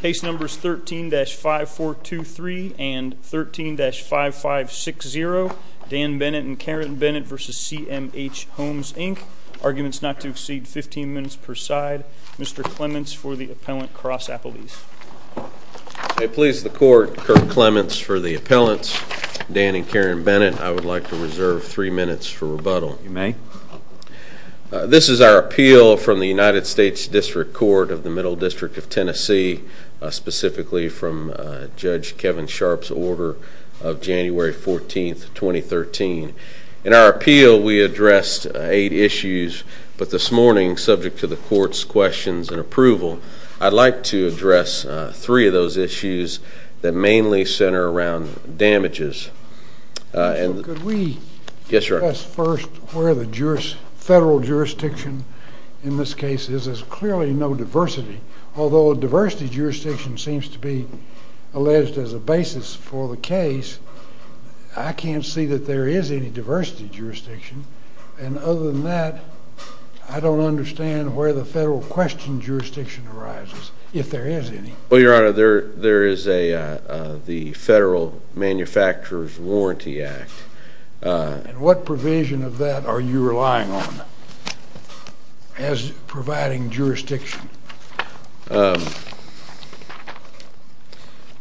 Case numbers 13-5423 and 13-5560, Dan Bennett and Karen Bennett v. CMH Homes Inc. Arguments not to exceed 15 minutes per side. Mr. Clements for the Appellant, Cross-Appelees. I please the Court, Kirk Clements for the Appellants, Dan and Karen Bennett, I would like to reserve 3 minutes for rebuttal. You may. This is our appeal from the United States District Court of the Middle District of Tennessee, specifically from Judge Kevin Sharpe's order of January 14, 2013. In our appeal, we addressed 8 issues, but this morning, subject to the Court's questions and approval, I'd like to address 3 of those issues that mainly center around damages. Mr. Marshall, could we address first where the federal jurisdiction in this case is? There's clearly no diversity. Although a diversity jurisdiction seems to be alleged as a basis for the case, I can't see that there is any diversity jurisdiction, and other than that, I don't understand where the federal question jurisdiction arises, if there is any. Well, Your Honor, there is the Federal Manufacturer's Warranty Act. What provision of that are you relying on as providing jurisdiction? One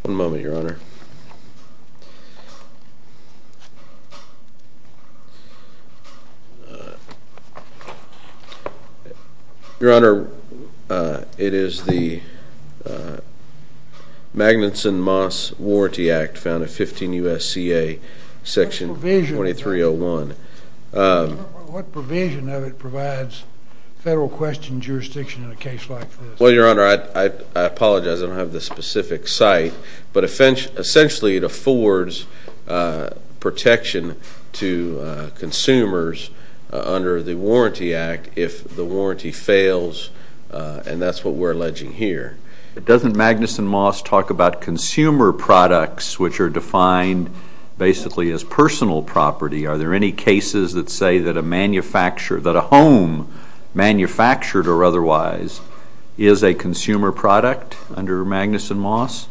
moment, Your Honor. Your Honor, it is the Magnuson-Moss Warranty Act, found in 15 U.S.C.A., Section 2301. What provision of it provides federal question jurisdiction in a case like this? Well, Your Honor, I apologize, I don't have the specific site, but essentially, it affords protection to consumers under the Warranty Act if the warranty fails, and that's what we're alleging here. But doesn't Magnuson-Moss talk about consumer products, which are defined basically as personal property? Are there any cases that say that a home, manufactured or otherwise, is a consumer product under Magnuson-Moss?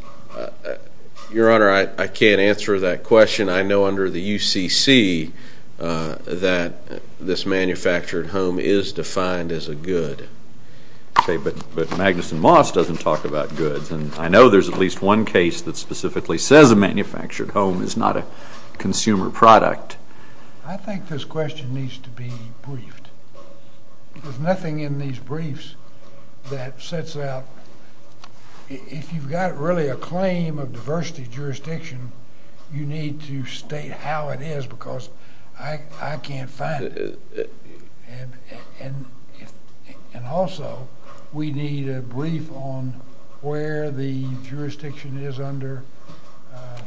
Your Honor, I can't answer that question. I know under the U.C.C. that this manufactured home is defined as a good. Okay, but Magnuson-Moss doesn't talk about goods, and I know there's at least one case that specifically says a manufactured home is not a consumer product. I think this question needs to be briefed. There's nothing in these briefs that sets out, if you've got really a claim of diversity jurisdiction, you need to state how it is, because I can't find it. And also, we need a brief on where the jurisdiction is under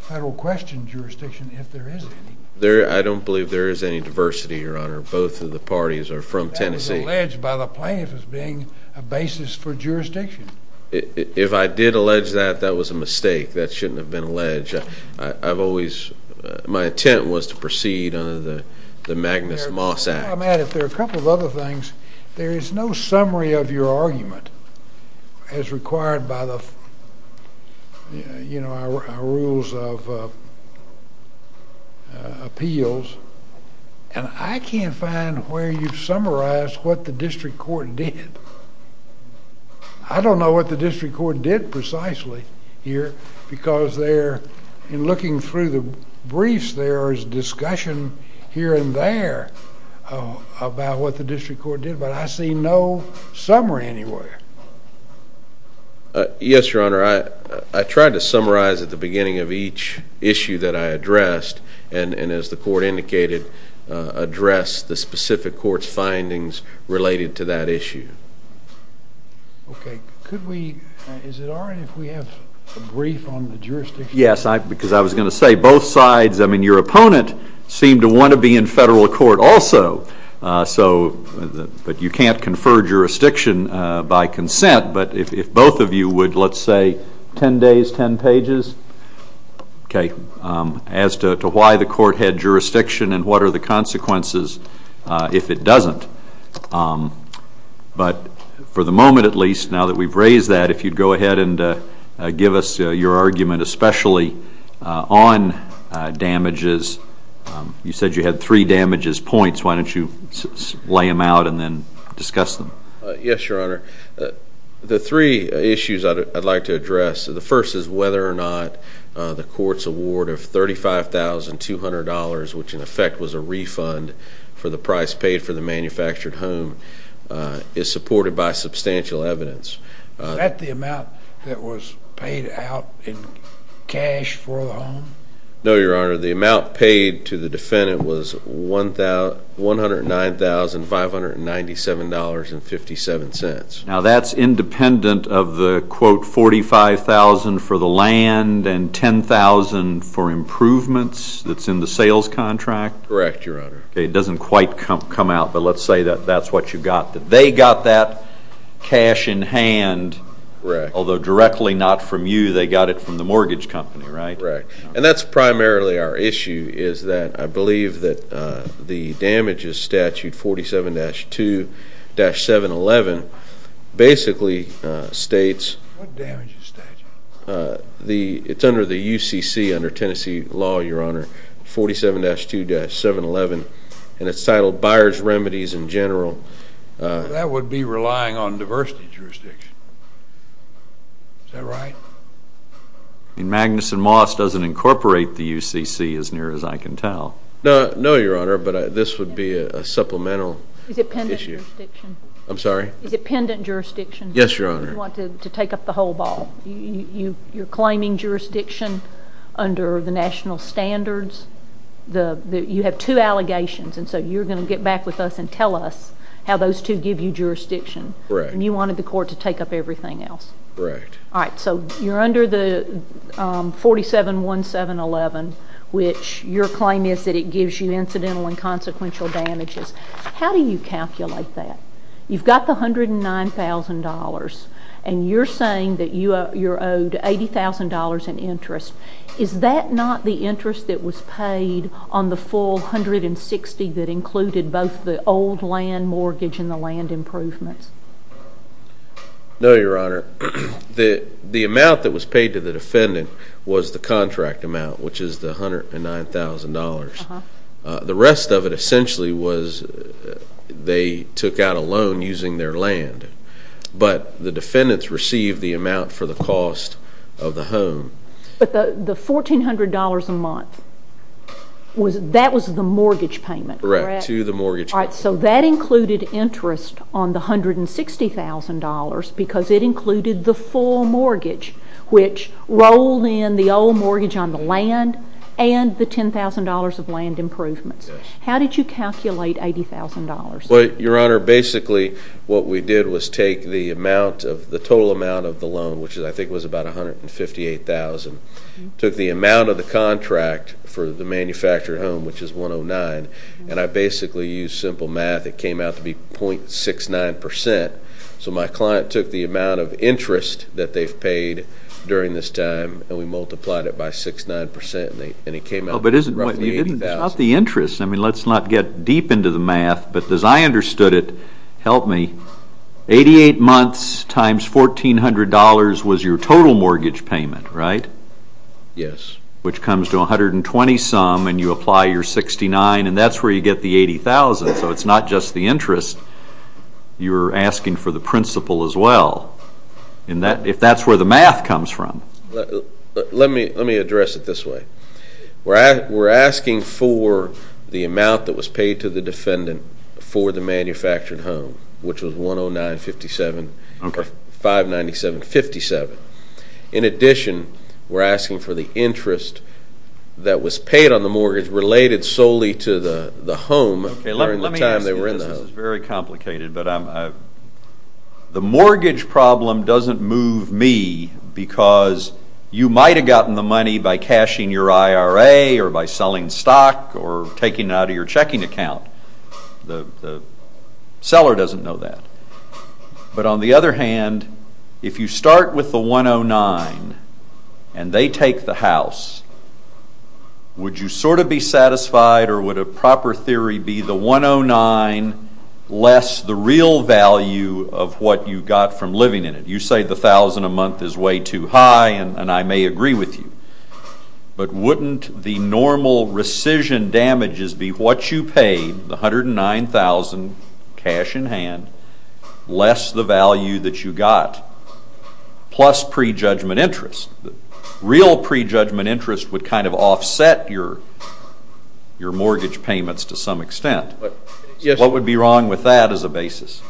federal question jurisdiction, if there is any. I don't believe there is any diversity, Your Honor. Both of the parties are from Tennessee. That was alleged by the plaintiff as being a basis for jurisdiction. If I did allege that, that was a mistake. That shouldn't have been alleged. My intent was to proceed under the Magnuson-Moss Act. Now, Matt, if there are a couple of other things, there is no summary of your argument as required by the rules of appeals, and I can't find where you've summarized what the district court did. I don't know what the district court did precisely here, because there, in looking through the district court did, but I see no summary anywhere. Yes, Your Honor. I tried to summarize at the beginning of each issue that I addressed, and as the court indicated, addressed the specific court's findings related to that issue. Okay. Could we, is it all right if we have a brief on the jurisdiction? Yes, because I was going to say, both sides, I mean, your opponent seemed to want to be in federal court also, but you can't confer jurisdiction by consent. But if both of you would, let's say 10 days, 10 pages, okay, as to why the court had jurisdiction and what are the consequences if it doesn't. But for the moment, at least, now that we've raised that, if you'd go ahead and give us your You said you had three damages points. Why don't you lay them out and then discuss them? Yes, Your Honor. The three issues I'd like to address, the first is whether or not the court's award of $35,200, which in effect was a refund for the price paid for the manufactured home, is supported by substantial evidence. No, Your Honor. The amount paid to the defendant was $109,597.57. Now, that's independent of the, quote, $45,000 for the land and $10,000 for improvements that's in the sales contract? Correct, Your Honor. It doesn't quite come out, but let's say that that's what you got. They got that cash in hand, although directly not from you. They got it from the mortgage company, right? Correct. And that's primarily our issue, is that I believe that the damages statute 47-2-711 basically states What damages statute? It's under the UCC, under Tennessee law, Your Honor, 47-2-711, and it's titled Buyer's Remedies in General. That would be relying on diversity jurisdiction. Is that right? I mean, Magnuson Moss doesn't incorporate the UCC, as near as I can tell. No, Your Honor, but this would be a supplemental issue. Is it pendant jurisdiction? I'm sorry? Is it pendant jurisdiction? Yes, Your Honor. You want to take up the whole ball. You're claiming jurisdiction under the national standards. You have two allegations, and so you're going to get back with us and tell us how those two give you jurisdiction. Correct. And you wanted the court to take up everything else. Correct. All right, so you're under the 47-1-7-11, which your claim is that it gives you incidental and consequential damages. How do you calculate that? You've got the $109,000, and you're saying that you're owed $80,000 in interest. Is that not the interest that was paid on the full $160,000 that included both the old land mortgage and the land improvements? No, Your Honor. The amount that was paid to the defendant was the contract amount, which is the $109,000. The rest of it essentially was they took out a loan using their land, but the defendants received the amount for the cost of the home. But the $1,400 a month, that was the mortgage payment. Correct, to the mortgage payment. All right, so that included interest on the $160,000 because it included the full mortgage, which rolled in the old mortgage on the land and the $10,000 of land improvements. Yes. How did you calculate $80,000? Well, Your Honor, basically what we did was take the total amount of the loan, which I think was about $158,000, took the amount of the contract for the manufactured home, which is $109,000, and I basically used simple math. It came out to be 0.69%. So my client took the amount of interest that they've paid during this time, and we multiplied it by 6.9%, and it came out to be roughly $80,000. But isn't what you did, it's not the interest. I mean, let's not get deep into the math, but as I understood it, help me, 88 months times $1,400 was your total mortgage payment, right? Yes. Which comes to 120-some, and you apply your 69, and that's where you get the $80,000, so it's not just the interest. You're asking for the principal as well, if that's where the math comes from. Let me address it this way. We're asking for the amount that was paid to the defendant for the manufactured home, which was $109,000, $57,000. In addition, we're asking for the interest that was paid on the mortgage related solely to the home during the time they were in the home. Okay, let me ask you this. This is very complicated, but the mortgage problem doesn't move me because you might have gotten the money by cashing your IRA or by selling stock or taking it out of your checking account. The seller doesn't know that. But on the other hand, if you start with the 109 and they take the house, would you sort of be satisfied or would a proper theory be the 109 less the real value of what you got from living in it? You say the $1,000 a month is way too high and I may agree with you, but wouldn't the normal rescission damages be what you paid, the $109,000 cash in hand, less the value that you got plus prejudgment interest? Real prejudgment interest would kind of offset your mortgage payments to some extent. What would be wrong with that as a basis?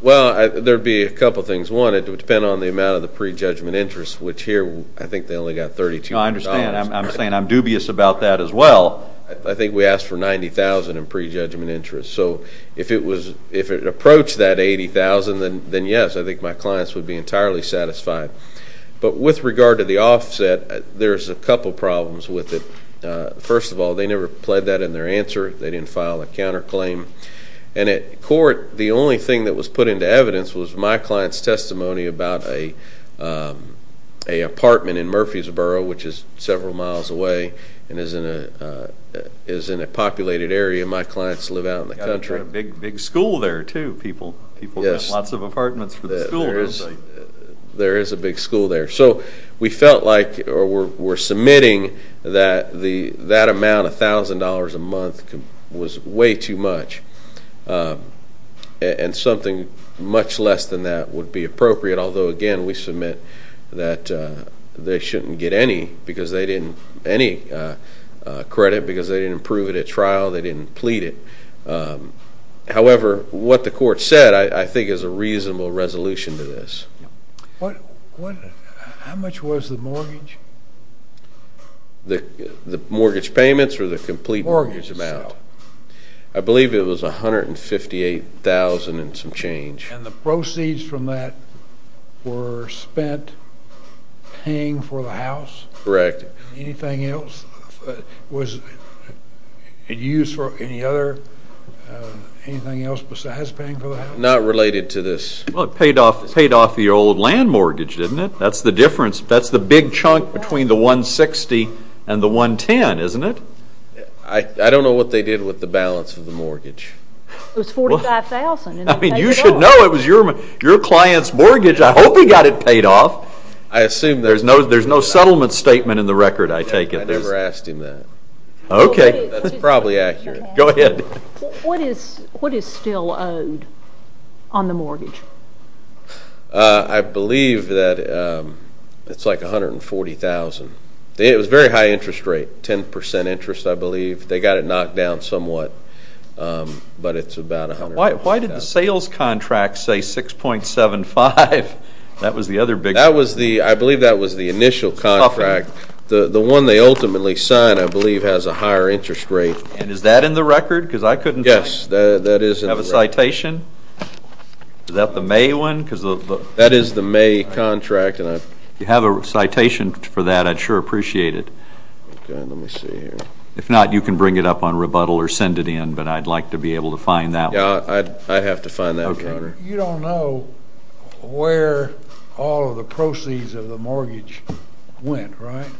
Well, there would be a couple of things. One, it would depend on the amount of the prejudgment interest, which here I think they only got $3,200. I understand. I'm saying I'm dubious about that as well. I think we asked for $90,000 in prejudgment interest. So if it approached that $80,000, then yes, I think my clients would be entirely satisfied. But with regard to the offset, there's a couple problems with it. First of all, they never pled that in their answer. They didn't file a counterclaim. And at court, the only thing that was put into evidence was my client's testimony about an apartment in Murfreesboro, which is several miles away and is in a populated area. My clients live out in the country. You've got a big school there too. People rent lots of apartments for the school, don't they? There is a big school there. So we felt like we're submitting that that amount, $1,000 a month, was way too much, and something much less than that would be appropriate, although, again, we submit that they shouldn't get any credit because they didn't prove it at trial, they didn't plead it. However, what the court said I think is a reasonable resolution to this. How much was the mortgage? The mortgage payments or the complete mortgage amount? Mortgage. I believe it was $158,000 and some change. And the proceeds from that were spent paying for the house? Correct. Anything else was used for any other anything else besides paying for the house? Not related to this. Well, it paid off the old land mortgage, didn't it? That's the difference. That's the big chunk between the $160,000 and the $110,000, isn't it? I don't know what they did with the balance of the mortgage. It was $45,000. I mean, you should know it was your client's mortgage. I hope he got it paid off. I assume there's no settlement statement in the record, I take it. I never asked him that. Okay. That's probably accurate. Go ahead. What is still owed on the mortgage? I believe that it's like $140,000. It was a very high interest rate, 10% interest, I believe. They got it knocked down somewhat, but it's about $140,000. Why did the sales contract say $6.75? That was the other big one. I believe that was the initial contract. The one they ultimately signed, I believe, has a higher interest rate. And is that in the record? Yes, that is in the record. Do you have a citation? Is that the May one? That is the May contract. If you have a citation for that, I'd sure appreciate it. Okay, let me see here. If not, you can bring it up on rebuttal or send it in, but I'd like to be able to find that one. Yeah, I'd have to find that one. You don't know where all of the proceeds of the mortgage went, right?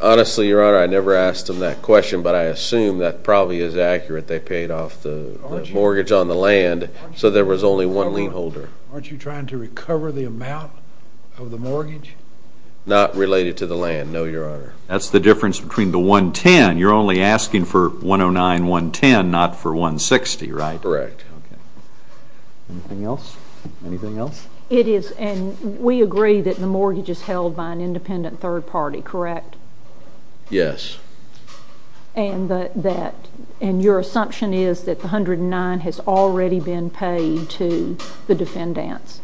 Honestly, Your Honor, I never asked them that question, but I assume that probably is accurate. They paid off the mortgage on the land, so there was only one lien holder. Aren't you trying to recover the amount of the mortgage? Not related to the land, no, Your Honor. That's the difference between the $110,000. You're only asking for $109,000 and $110,000, not for $160,000, right? Correct. Anything else? We agree that the mortgage is held by an independent third party, correct? Yes. And your assumption is that the $109,000 has already been paid to the defendants?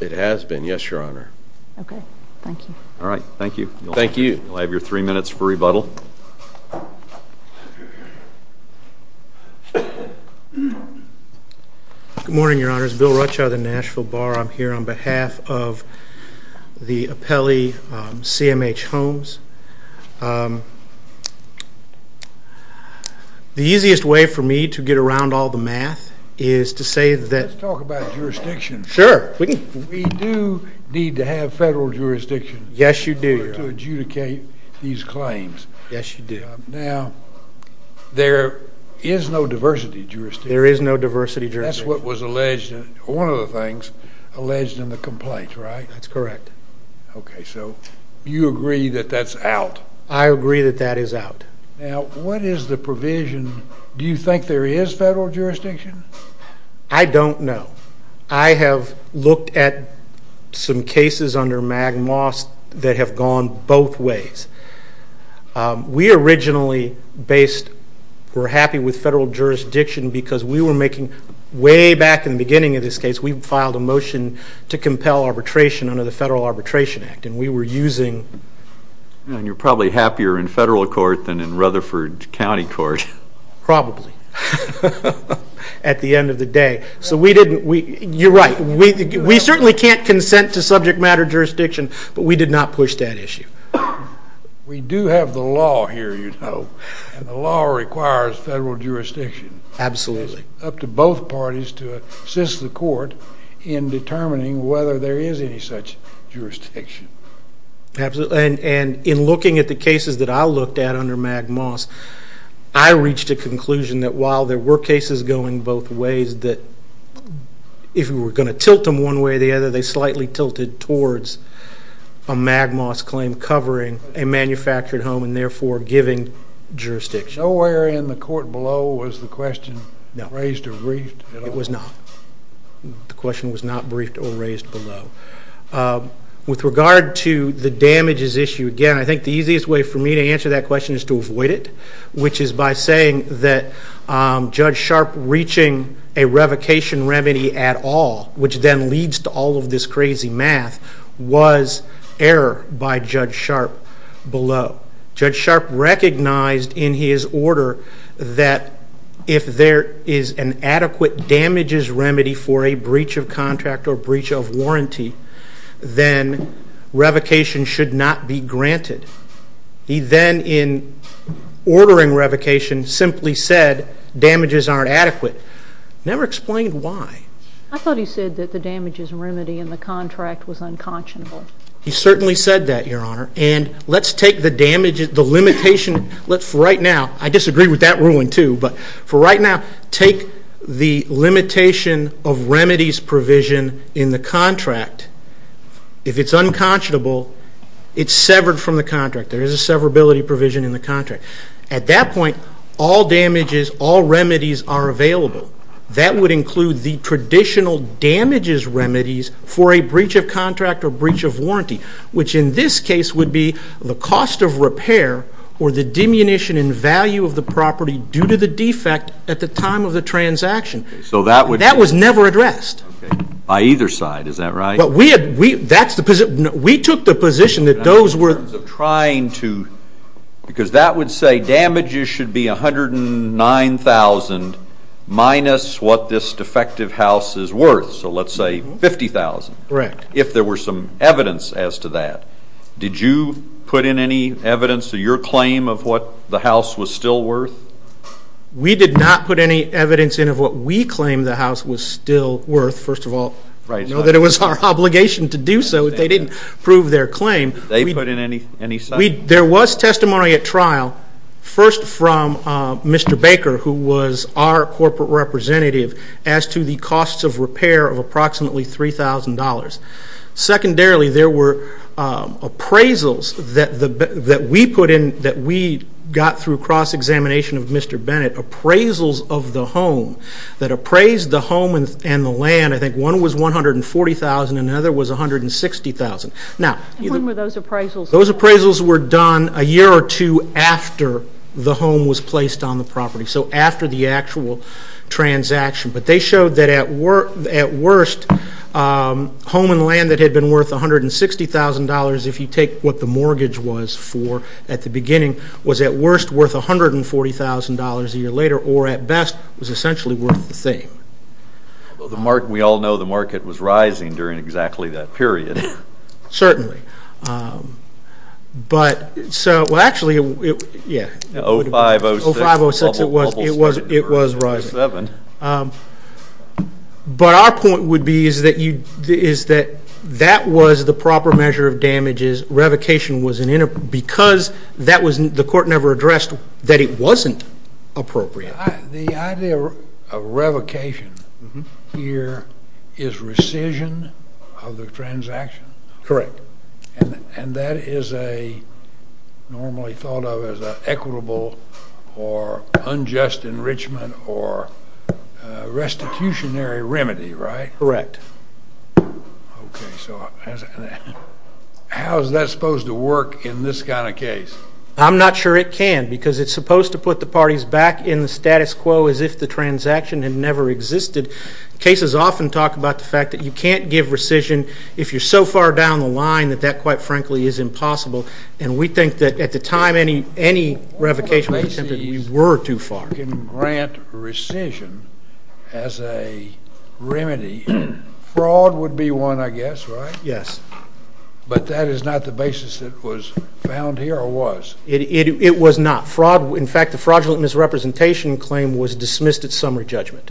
It has been, yes, Your Honor. Okay, thank you. All right, thank you. Thank you. You'll have your three minutes for rebuttal. Good morning, Your Honors. Bill Rutschow of the Nashville Bar. I'm here on behalf of the appellee, CMH Holmes. The easiest way for me to get around all the math is to say that we do need to have federal jurisdiction to adjudicate these claims. Yes, you do. Now, there is no diversity jurisdiction. There is no diversity jurisdiction. That's what was alleged, one of the things, alleged in the complaint, right? That's correct. Okay, so you agree that that's out? I agree that that is out. Now, what is the provision? Do you think there is federal jurisdiction? I don't know. I have looked at some cases under MAGMOS that have gone both ways. We originally were happy with federal jurisdiction because we were making way back in the beginning of this case, we filed a motion to compel arbitration under the Federal Arbitration Act, and we were using. You're probably happier in federal court than in Rutherford County Court. Probably, at the end of the day. You're right. We certainly can't consent to subject matter jurisdiction, but we did not push that issue. We do have the law here, you know, and the law requires federal jurisdiction. Absolutely. It's up to both parties to assist the court in determining whether there is any such jurisdiction. Absolutely, and in looking at the cases that I looked at under MAGMOS, I reached a conclusion that while there were cases going both ways, that if we were going to tilt them one way or the other, they slightly tilted towards a MAGMOS claim covering a manufactured home and therefore giving jurisdiction. Nowhere in the court below was the question raised or briefed at all. It was not. The question was not briefed or raised below. With regard to the damages issue, again, I think the easiest way for me to answer that question is to avoid it, which is by saying that Judge Sharpe reaching a revocation remedy at all, which then leads to all of this crazy math, was error by Judge Sharpe below. Judge Sharpe recognized in his order that if there is an adequate damages remedy for a breach of contract or breach of warranty, then revocation should not be granted. He then, in ordering revocation, simply said damages aren't adequate. Never explained why. I thought he said that the damages remedy in the contract was unconscionable. He certainly said that, Your Honor, and let's take the damages, the limitation. I disagree with that ruling too, but for right now, take the limitation of remedies provision in the contract. If it's unconscionable, it's severed from the contract. There is a severability provision in the contract. At that point, all damages, all remedies are available. That would include the traditional damages remedies for a breach of contract or breach of warranty, which in this case would be the cost of repair or the diminution in value of the property due to the defect at the time of the transaction. That was never addressed. By either side, is that right? We took the position that those were— Because that would say damages should be $109,000 minus what this defective house is worth, so let's say $50,000. Correct. If there were some evidence as to that, did you put in any evidence to your claim of what the house was still worth? We did not put any evidence in of what we claimed the house was still worth, first of all. Right. We know that it was our obligation to do so. They didn't prove their claim. They put in any— There was testimony at trial, first from Mr. Baker, who was our corporate representative, as to the cost of repair of approximately $3,000. Secondarily, there were appraisals that we got through cross-examination of Mr. Bennett, appraisals of the home that appraised the home and the land. I think one was $140,000 and another was $160,000. When were those appraisals? Those appraisals were done a year or two after the home was placed on the property, so after the actual transaction. But they showed that at worst, home and land that had been worth $160,000, if you take what the mortgage was for at the beginning, was at worst worth $140,000 a year later, or at best was essentially worth the same. We all know the market was rising during exactly that period. Certainly. But so—well, actually, yeah. 05, 06. 05, 06, it was rising. 07. But our point would be is that that was the proper measure of damages. Revocation was an—because that was—the court never addressed that it wasn't appropriate. The idea of revocation here is rescission of the transaction. Correct. And that is normally thought of as an equitable or unjust enrichment or restitutionary remedy, right? Correct. Okay. So how is that supposed to work in this kind of case? I'm not sure it can because it's supposed to put the parties back in the status quo as if the transaction had never existed. Cases often talk about the fact that you can't give rescission if you're so far down the line that that, quite frankly, is impossible. And we think that at the time any revocation was attempted, we were too far. You can grant rescission as a remedy. Fraud would be one, I guess, right? Yes. But that is not the basis that was found here or was? It was not. In fact, the fraudulent misrepresentation claim was dismissed at summary judgment.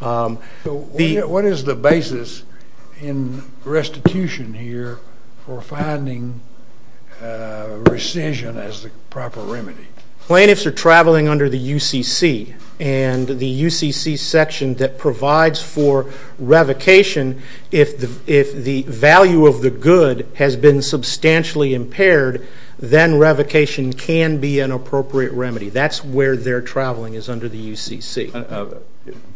What is the basis in restitution here for finding rescission as the proper remedy? Plaintiffs are traveling under the UCC, and the UCC section that provides for revocation, if the value of the good has been substantially impaired, then revocation can be an appropriate remedy. That's where they're traveling is under the UCC.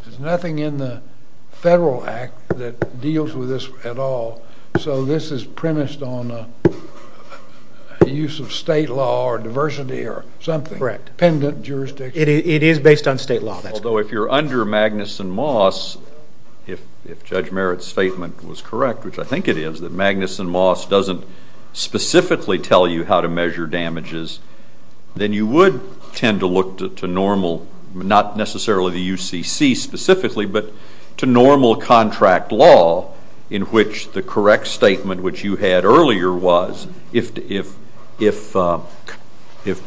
There's nothing in the federal act that deals with this at all, so this is premised on the use of state law or diversity or something. Correct. Dependent jurisdiction. It is based on state law. Although if you're under Magnuson-Moss, if Judge Merritt's statement was correct, which I think it is, that Magnuson-Moss doesn't specifically tell you how to measure damages, then you would tend to look to normal, not necessarily the UCC specifically, but to normal contract law in which the correct statement which you had earlier was, if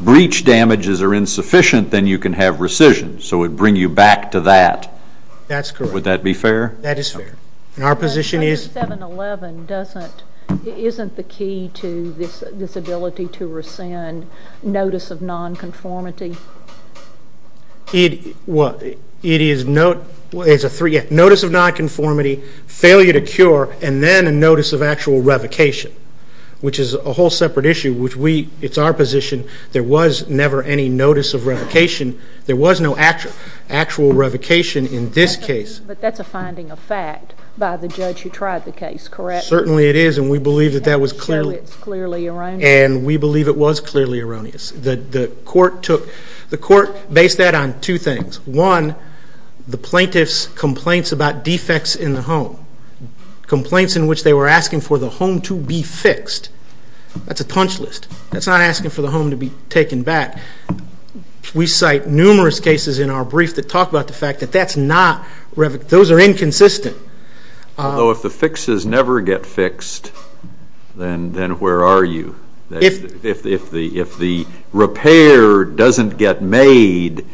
breach damages are insufficient, then you can have rescission. So it would bring you back to that. That's correct. Would that be fair? That is fair. Our position is... But 711 isn't the key to this ability to rescind notice of nonconformity? It is notice of nonconformity, failure to cure, and then a notice of actual revocation, which is a whole separate issue. It's our position there was never any notice of revocation. There was no actual revocation in this case. But that's a finding of fact by the judge who tried the case, correct? Certainly it is, and we believe it was clearly erroneous. The court based that on two things. One, the plaintiff's complaints about defects in the home, complaints in which they were asking for the home to be fixed. That's a punch list. That's not asking for the home to be taken back. We cite numerous cases in our brief that talk about the fact that that's not revocation. Those are inconsistent. Although if the fixes never get fixed, then where are you? If the repair doesn't get made...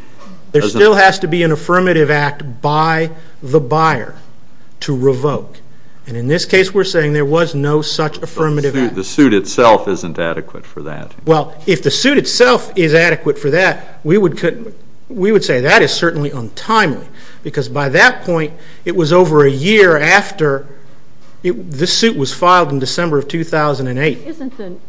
There still has to be an affirmative act by the buyer to revoke. And in this case we're saying there was no such affirmative act. The suit itself isn't adequate for that. Well, if the suit itself is adequate for that, we would say that is certainly untimely because by that point it was over a year after the suit was filed in December of 2008.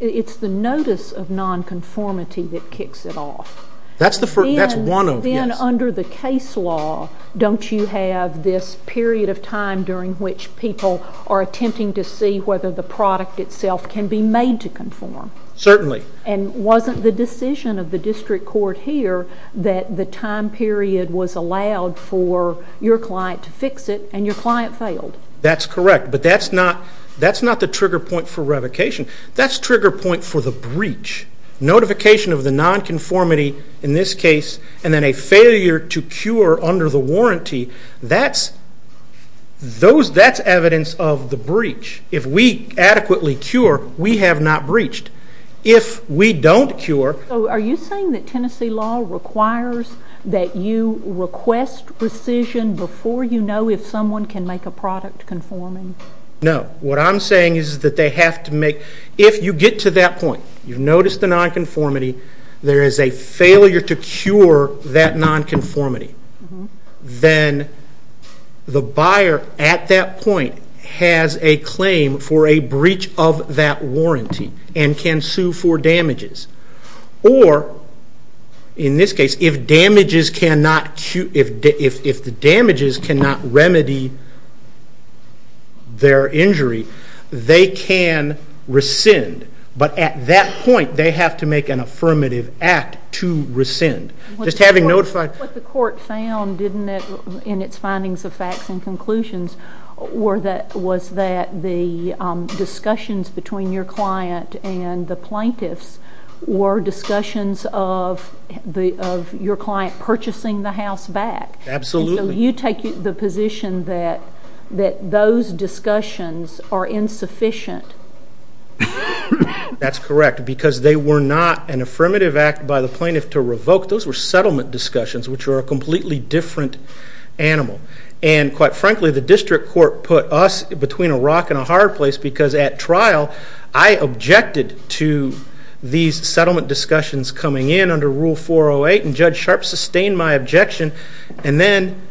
It's the notice of nonconformity that kicks it off. Then under the case law, don't you have this period of time during which people are attempting to see whether the product itself can be made to conform? Certainly. And wasn't the decision of the district court here that the time period was allowed for your client to fix it and your client failed? That's correct, but that's not the trigger point for revocation. That's the trigger point for the breach. Notification of the nonconformity in this case and then a failure to cure under the warranty, that's evidence of the breach. If we adequately cure, we have not breached. If we don't cure... Are you saying that Tennessee law requires that you request rescission before you know if someone can make a product conforming? No. What I'm saying is that they have to make... If you get to that point, you've noticed the nonconformity, there is a failure to cure that nonconformity, then the buyer at that point has a claim for a breach of that warranty and can sue for damages. Or, in this case, if the damages cannot remedy their injury, they can rescind. But at that point, they have to make an affirmative act to rescind. What the court found in its findings of facts and conclusions was that the discussions between your client and the plaintiffs were discussions of your client purchasing the house back. Absolutely. So you take the position that those discussions are insufficient? That's correct, because they were not an affirmative act by the plaintiff to revoke. Those were settlement discussions, which are a completely different animal. And quite frankly, the district court put us between a rock and a hard place because at trial, I objected to these settlement discussions coming in under Rule 408, and Judge Sharp sustained my objection. And then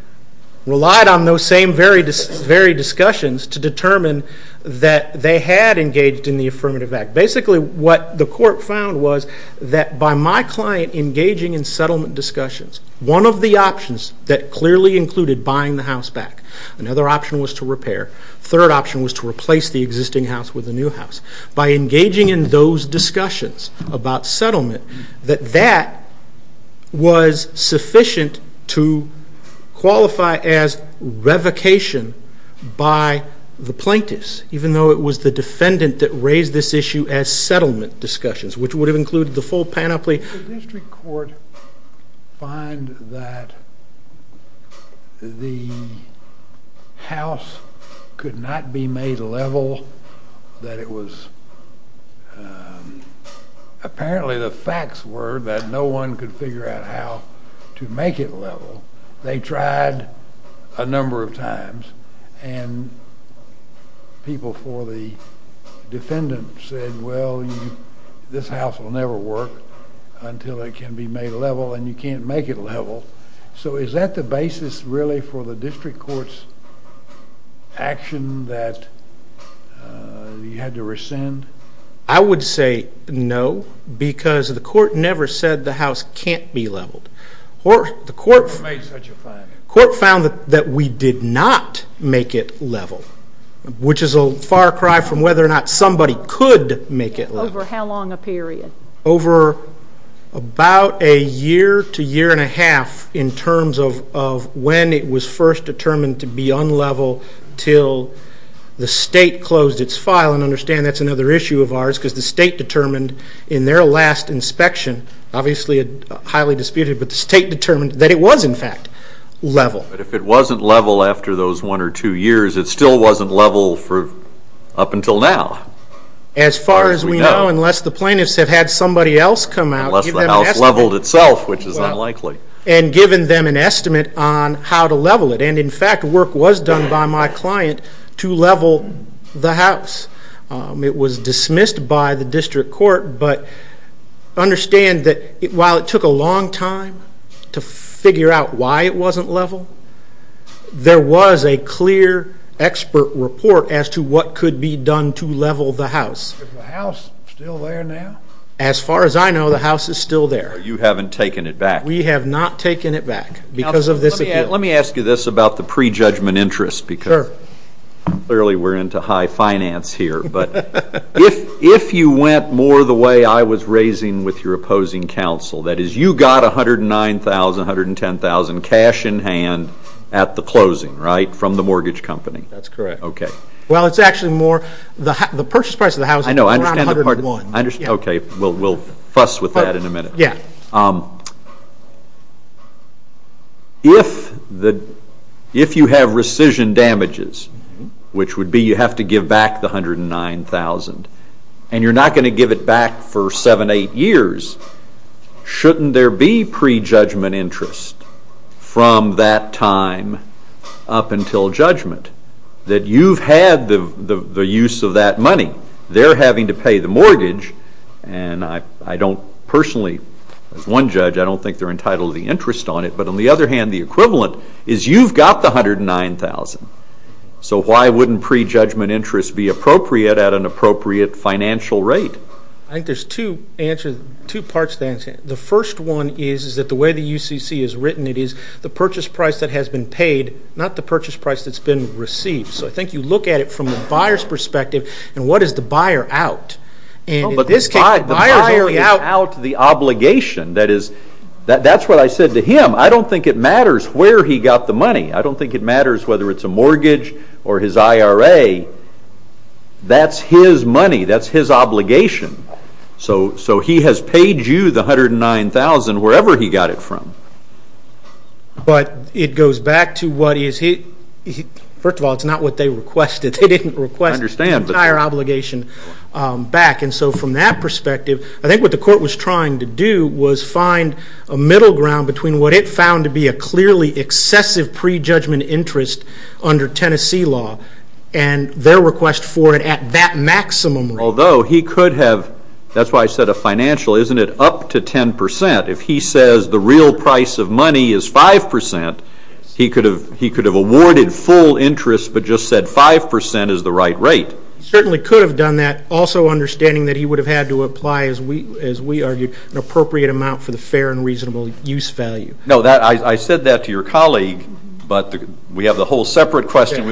relied on those same very discussions to determine that they had engaged in the affirmative act. Basically, what the court found was that by my client engaging in settlement discussions, one of the options that clearly included buying the house back, another option was to repair, a third option was to replace the existing house with a new house. By engaging in those discussions about settlement, that that was sufficient to qualify as revocation by the plaintiffs, even though it was the defendant that raised this issue as settlement discussions, which would have included the full panoply. Did the district court find that the house could not be made level, that it was, apparently the facts were that no one could figure out how to make it level. They tried a number of times, and people for the defendant said, well, this house will never work until it can be made level, and you can't make it level. So is that the basis really for the district court's action that you had to rescind? I would say no, because the court never said the house can't be leveled. The court found that we did not make it level, which is a far cry from whether or not somebody could make it level. Over how long a period? Over about a year to year and a half in terms of when it was first determined to be unlevel until the state closed its file, and understand that's another issue of ours, because the state determined in their last inspection, obviously highly disputed, but the state determined that it was, in fact, level. But if it wasn't level after those one or two years, it still wasn't level up until now? As far as we know, unless the plaintiffs have had somebody else come out and given them an estimate, and given them an estimate on how to level it, and in fact work was done by my client to level the house. It was dismissed by the district court, but understand that while it took a long time to figure out why it wasn't level, there was a clear expert report as to what could be done to level the house. Is the house still there now? As far as I know, the house is still there. You haven't taken it back. We have not taken it back because of this appeal. Let me ask you this about the prejudgment interest, because clearly we're into high finance here, but if you went more the way I was raising with your opposing counsel, that is you got $109,000, $110,000 cash in hand at the closing, right, from the mortgage company? That's correct. Well, it's actually more the purchase price of the house is around $101,000. Okay, we'll fuss with that in a minute. If you have rescission damages, which would be you have to give back the $109,000, and you're not going to give it back for seven, eight years, shouldn't there be prejudgment interest from that time up until judgment that you've had the use of that money? They're having to pay the mortgage, and I don't personally, as one judge, I don't think they're entitled to the interest on it, but on the other hand, the equivalent is you've got the $109,000, so why wouldn't prejudgment interest be appropriate at an appropriate financial rate? I think there's two parts to the answer. The first one is that the way the UCC has written it is the purchase price that has been paid, not the purchase price that's been received. So I think you look at it from the buyer's perspective, and what is the buyer out? The buyer is out the obligation. That's what I said to him. I don't think it matters where he got the money. I don't think it matters whether it's a mortgage or his IRA. That's his money. That's his obligation. So he has paid you the $109,000 wherever he got it from. But it goes back to what he has hit. First of all, it's not what they requested. They didn't request the entire obligation back, and so from that perspective, I think what the court was trying to do was find a middle ground between what it found to be a clearly excessive prejudgment interest under Tennessee law and their request for it at that maximum rate. Although he could have, that's why I said a financial, isn't it up to 10%? If he says the real price of money is 5%, he could have awarded full interest but just said 5% is the right rate. He certainly could have done that, also understanding that he would have had to apply, as we argued, an appropriate amount for the fair and reasonable use value. No, I said that to your colleague, but we have a whole separate question.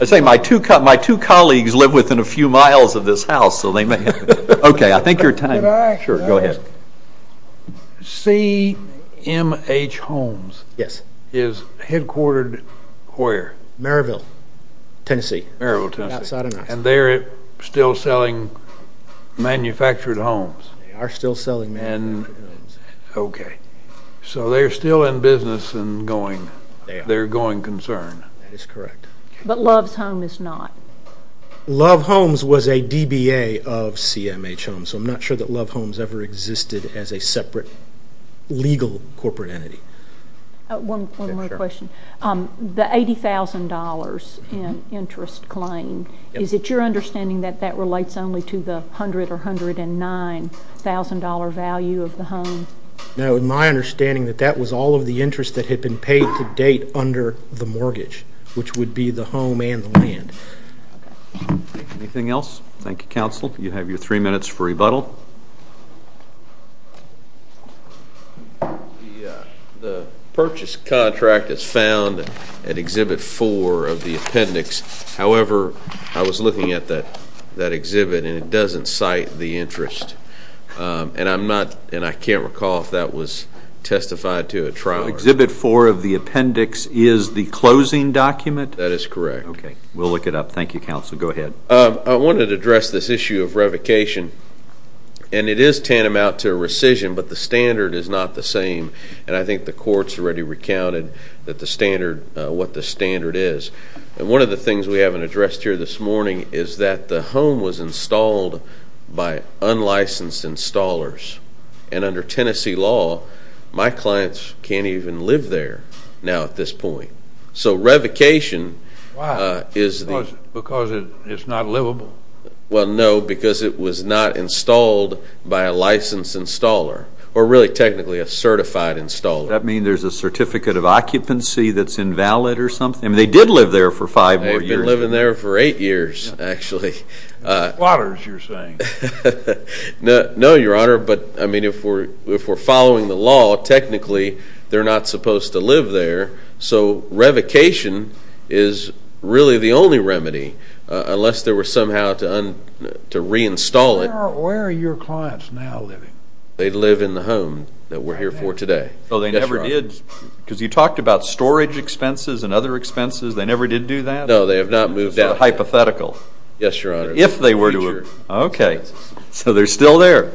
I say my two colleagues live within a few miles of this house, so they may have. Okay, I think you're time. Sure, go ahead. CMH Homes is headquartered where? Merrillville, Tennessee. And they're still selling manufactured homes. They are still selling manufactured homes. Okay, so they're still in business and they're going concern. That is correct. But Love's Home is not. Love Homes was a DBA of CMH Homes, so I'm not sure that Love Homes ever existed as a separate legal corporate entity. One more question. The $80,000 in interest claim, is it your understanding that that relates only to the $100,000 or $109,000 value of the home? No, it was my understanding that that was all of the interest that had been paid to date under the mortgage, which would be the home and the land. Anything else? Thank you, counsel. You have your three minutes for rebuttal. Rebuttal. The purchase contract is found at Exhibit 4 of the appendix. However, I was looking at that exhibit and it doesn't cite the interest, and I can't recall if that was testified to at trial. Exhibit 4 of the appendix is the closing document? That is correct. Okay, we'll look it up. Thank you, counsel. Go ahead. I wanted to address this issue of revocation. And it is tantamount to a rescission, but the standard is not the same. And I think the court has already recounted what the standard is. And one of the things we haven't addressed here this morning is that the home was installed by unlicensed installers. And under Tennessee law, my clients can't even live there now at this point. So revocation is the – Because it's not livable? Well, no, because it was not installed by a licensed installer, or really technically a certified installer. Does that mean there's a certificate of occupancy that's invalid or something? I mean, they did live there for five more years. They've been living there for eight years, actually. Squatters, you're saying. No, Your Honor. But, I mean, if we're following the law, technically they're not supposed to live there. So revocation is really the only remedy, unless there were somehow to reinstall it. Where are your clients now living? They live in the home that we're here for today. Oh, they never did? Yes, Your Honor. Because you talked about storage expenses and other expenses. They never did do that? No, they have not moved out. It's a hypothetical. Yes, Your Honor. If they were to move. Okay. So they're still there?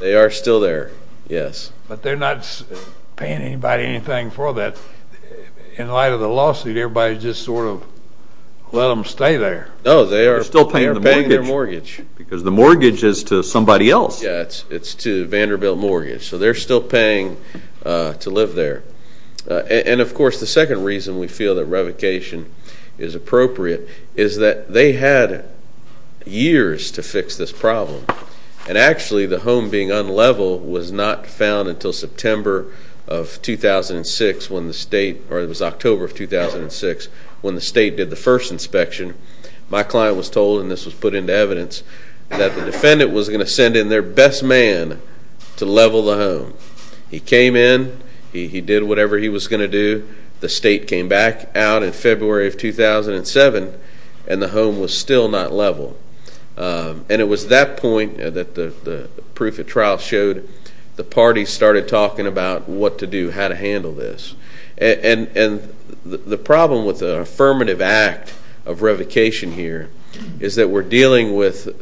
They are still there, yes. But they're not paying anybody anything for that. In light of the lawsuit, everybody just sort of let them stay there. No, they are paying their mortgage. Because the mortgage is to somebody else. Yeah, it's to Vanderbilt Mortgage. So they're still paying to live there. And, of course, the second reason we feel that revocation is appropriate is that they had years to fix this problem. And, actually, the home being unlevel was not found until September of 2006 when the state, or it was October of 2006, when the state did the first inspection. My client was told, and this was put into evidence, that the defendant was going to send in their best man to level the home. He came in. He did whatever he was going to do. The state came back out in February of 2007, and the home was still not level. And it was that point that the proof of trial showed the parties started talking about what to do, how to handle this. And the problem with the affirmative act of revocation here is that we're dealing with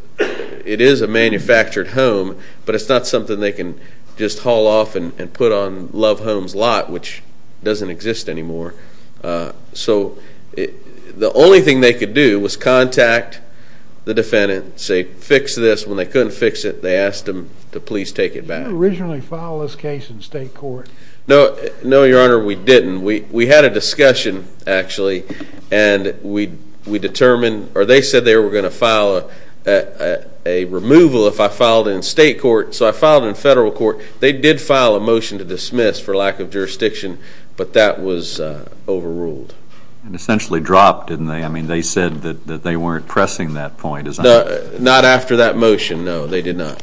it is a manufactured home, but it's not something they can just haul off and put on Love Home's lot, which doesn't exist anymore. So the only thing they could do was contact the defendant and say, fix this. When they couldn't fix it, they asked them to please take it back. Did you originally file this case in state court? No, Your Honor, we didn't. We had a discussion, actually, and we determined, or they said they were going to file a removal if I filed it in state court. So I filed it in federal court. They did file a motion to dismiss for lack of jurisdiction, but that was overruled. And essentially dropped, didn't they? I mean, they said that they weren't pressing that point. Not after that motion, no. They did not.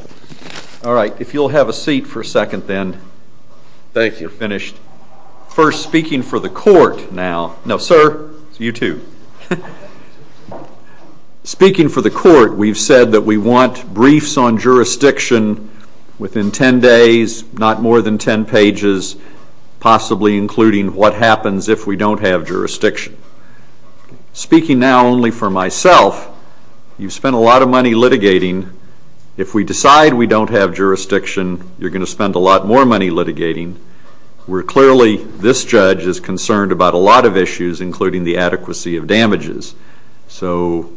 All right. If you'll have a seat for a second then. Thank you. You're finished. First, speaking for the court now. No, sir. You too. Speaking for the court, we've said that we want briefs on jurisdiction within 10 days, not more than 10 pages, possibly including what happens if we don't have jurisdiction. Speaking now only for myself, you've spent a lot of money litigating. If we decide we don't have jurisdiction, you're going to spend a lot more money litigating. Clearly this judge is concerned about a lot of issues, including the adequacy of damages. So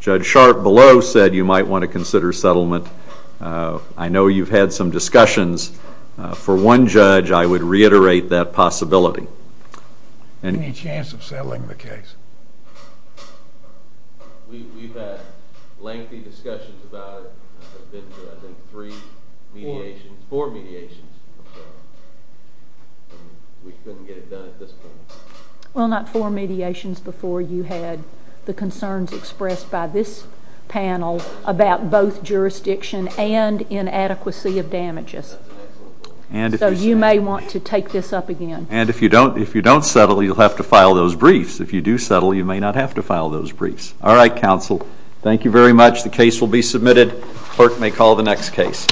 Judge Sharp below said you might want to consider settlement. I know you've had some discussions. For one judge, I would reiterate that possibility. Any chance of settling the case? We've had lengthy discussions about it. I think three mediations, four mediations. We couldn't get it done at this point. Well, not four mediations before you had the concerns expressed by this panel about both jurisdiction and inadequacy of damages. So you may want to take this up again. And if you don't settle, you'll have to file those briefs. If you do settle, you may not have to file those briefs. All right, counsel. Thank you very much. The case will be submitted. Clerk may call the next case.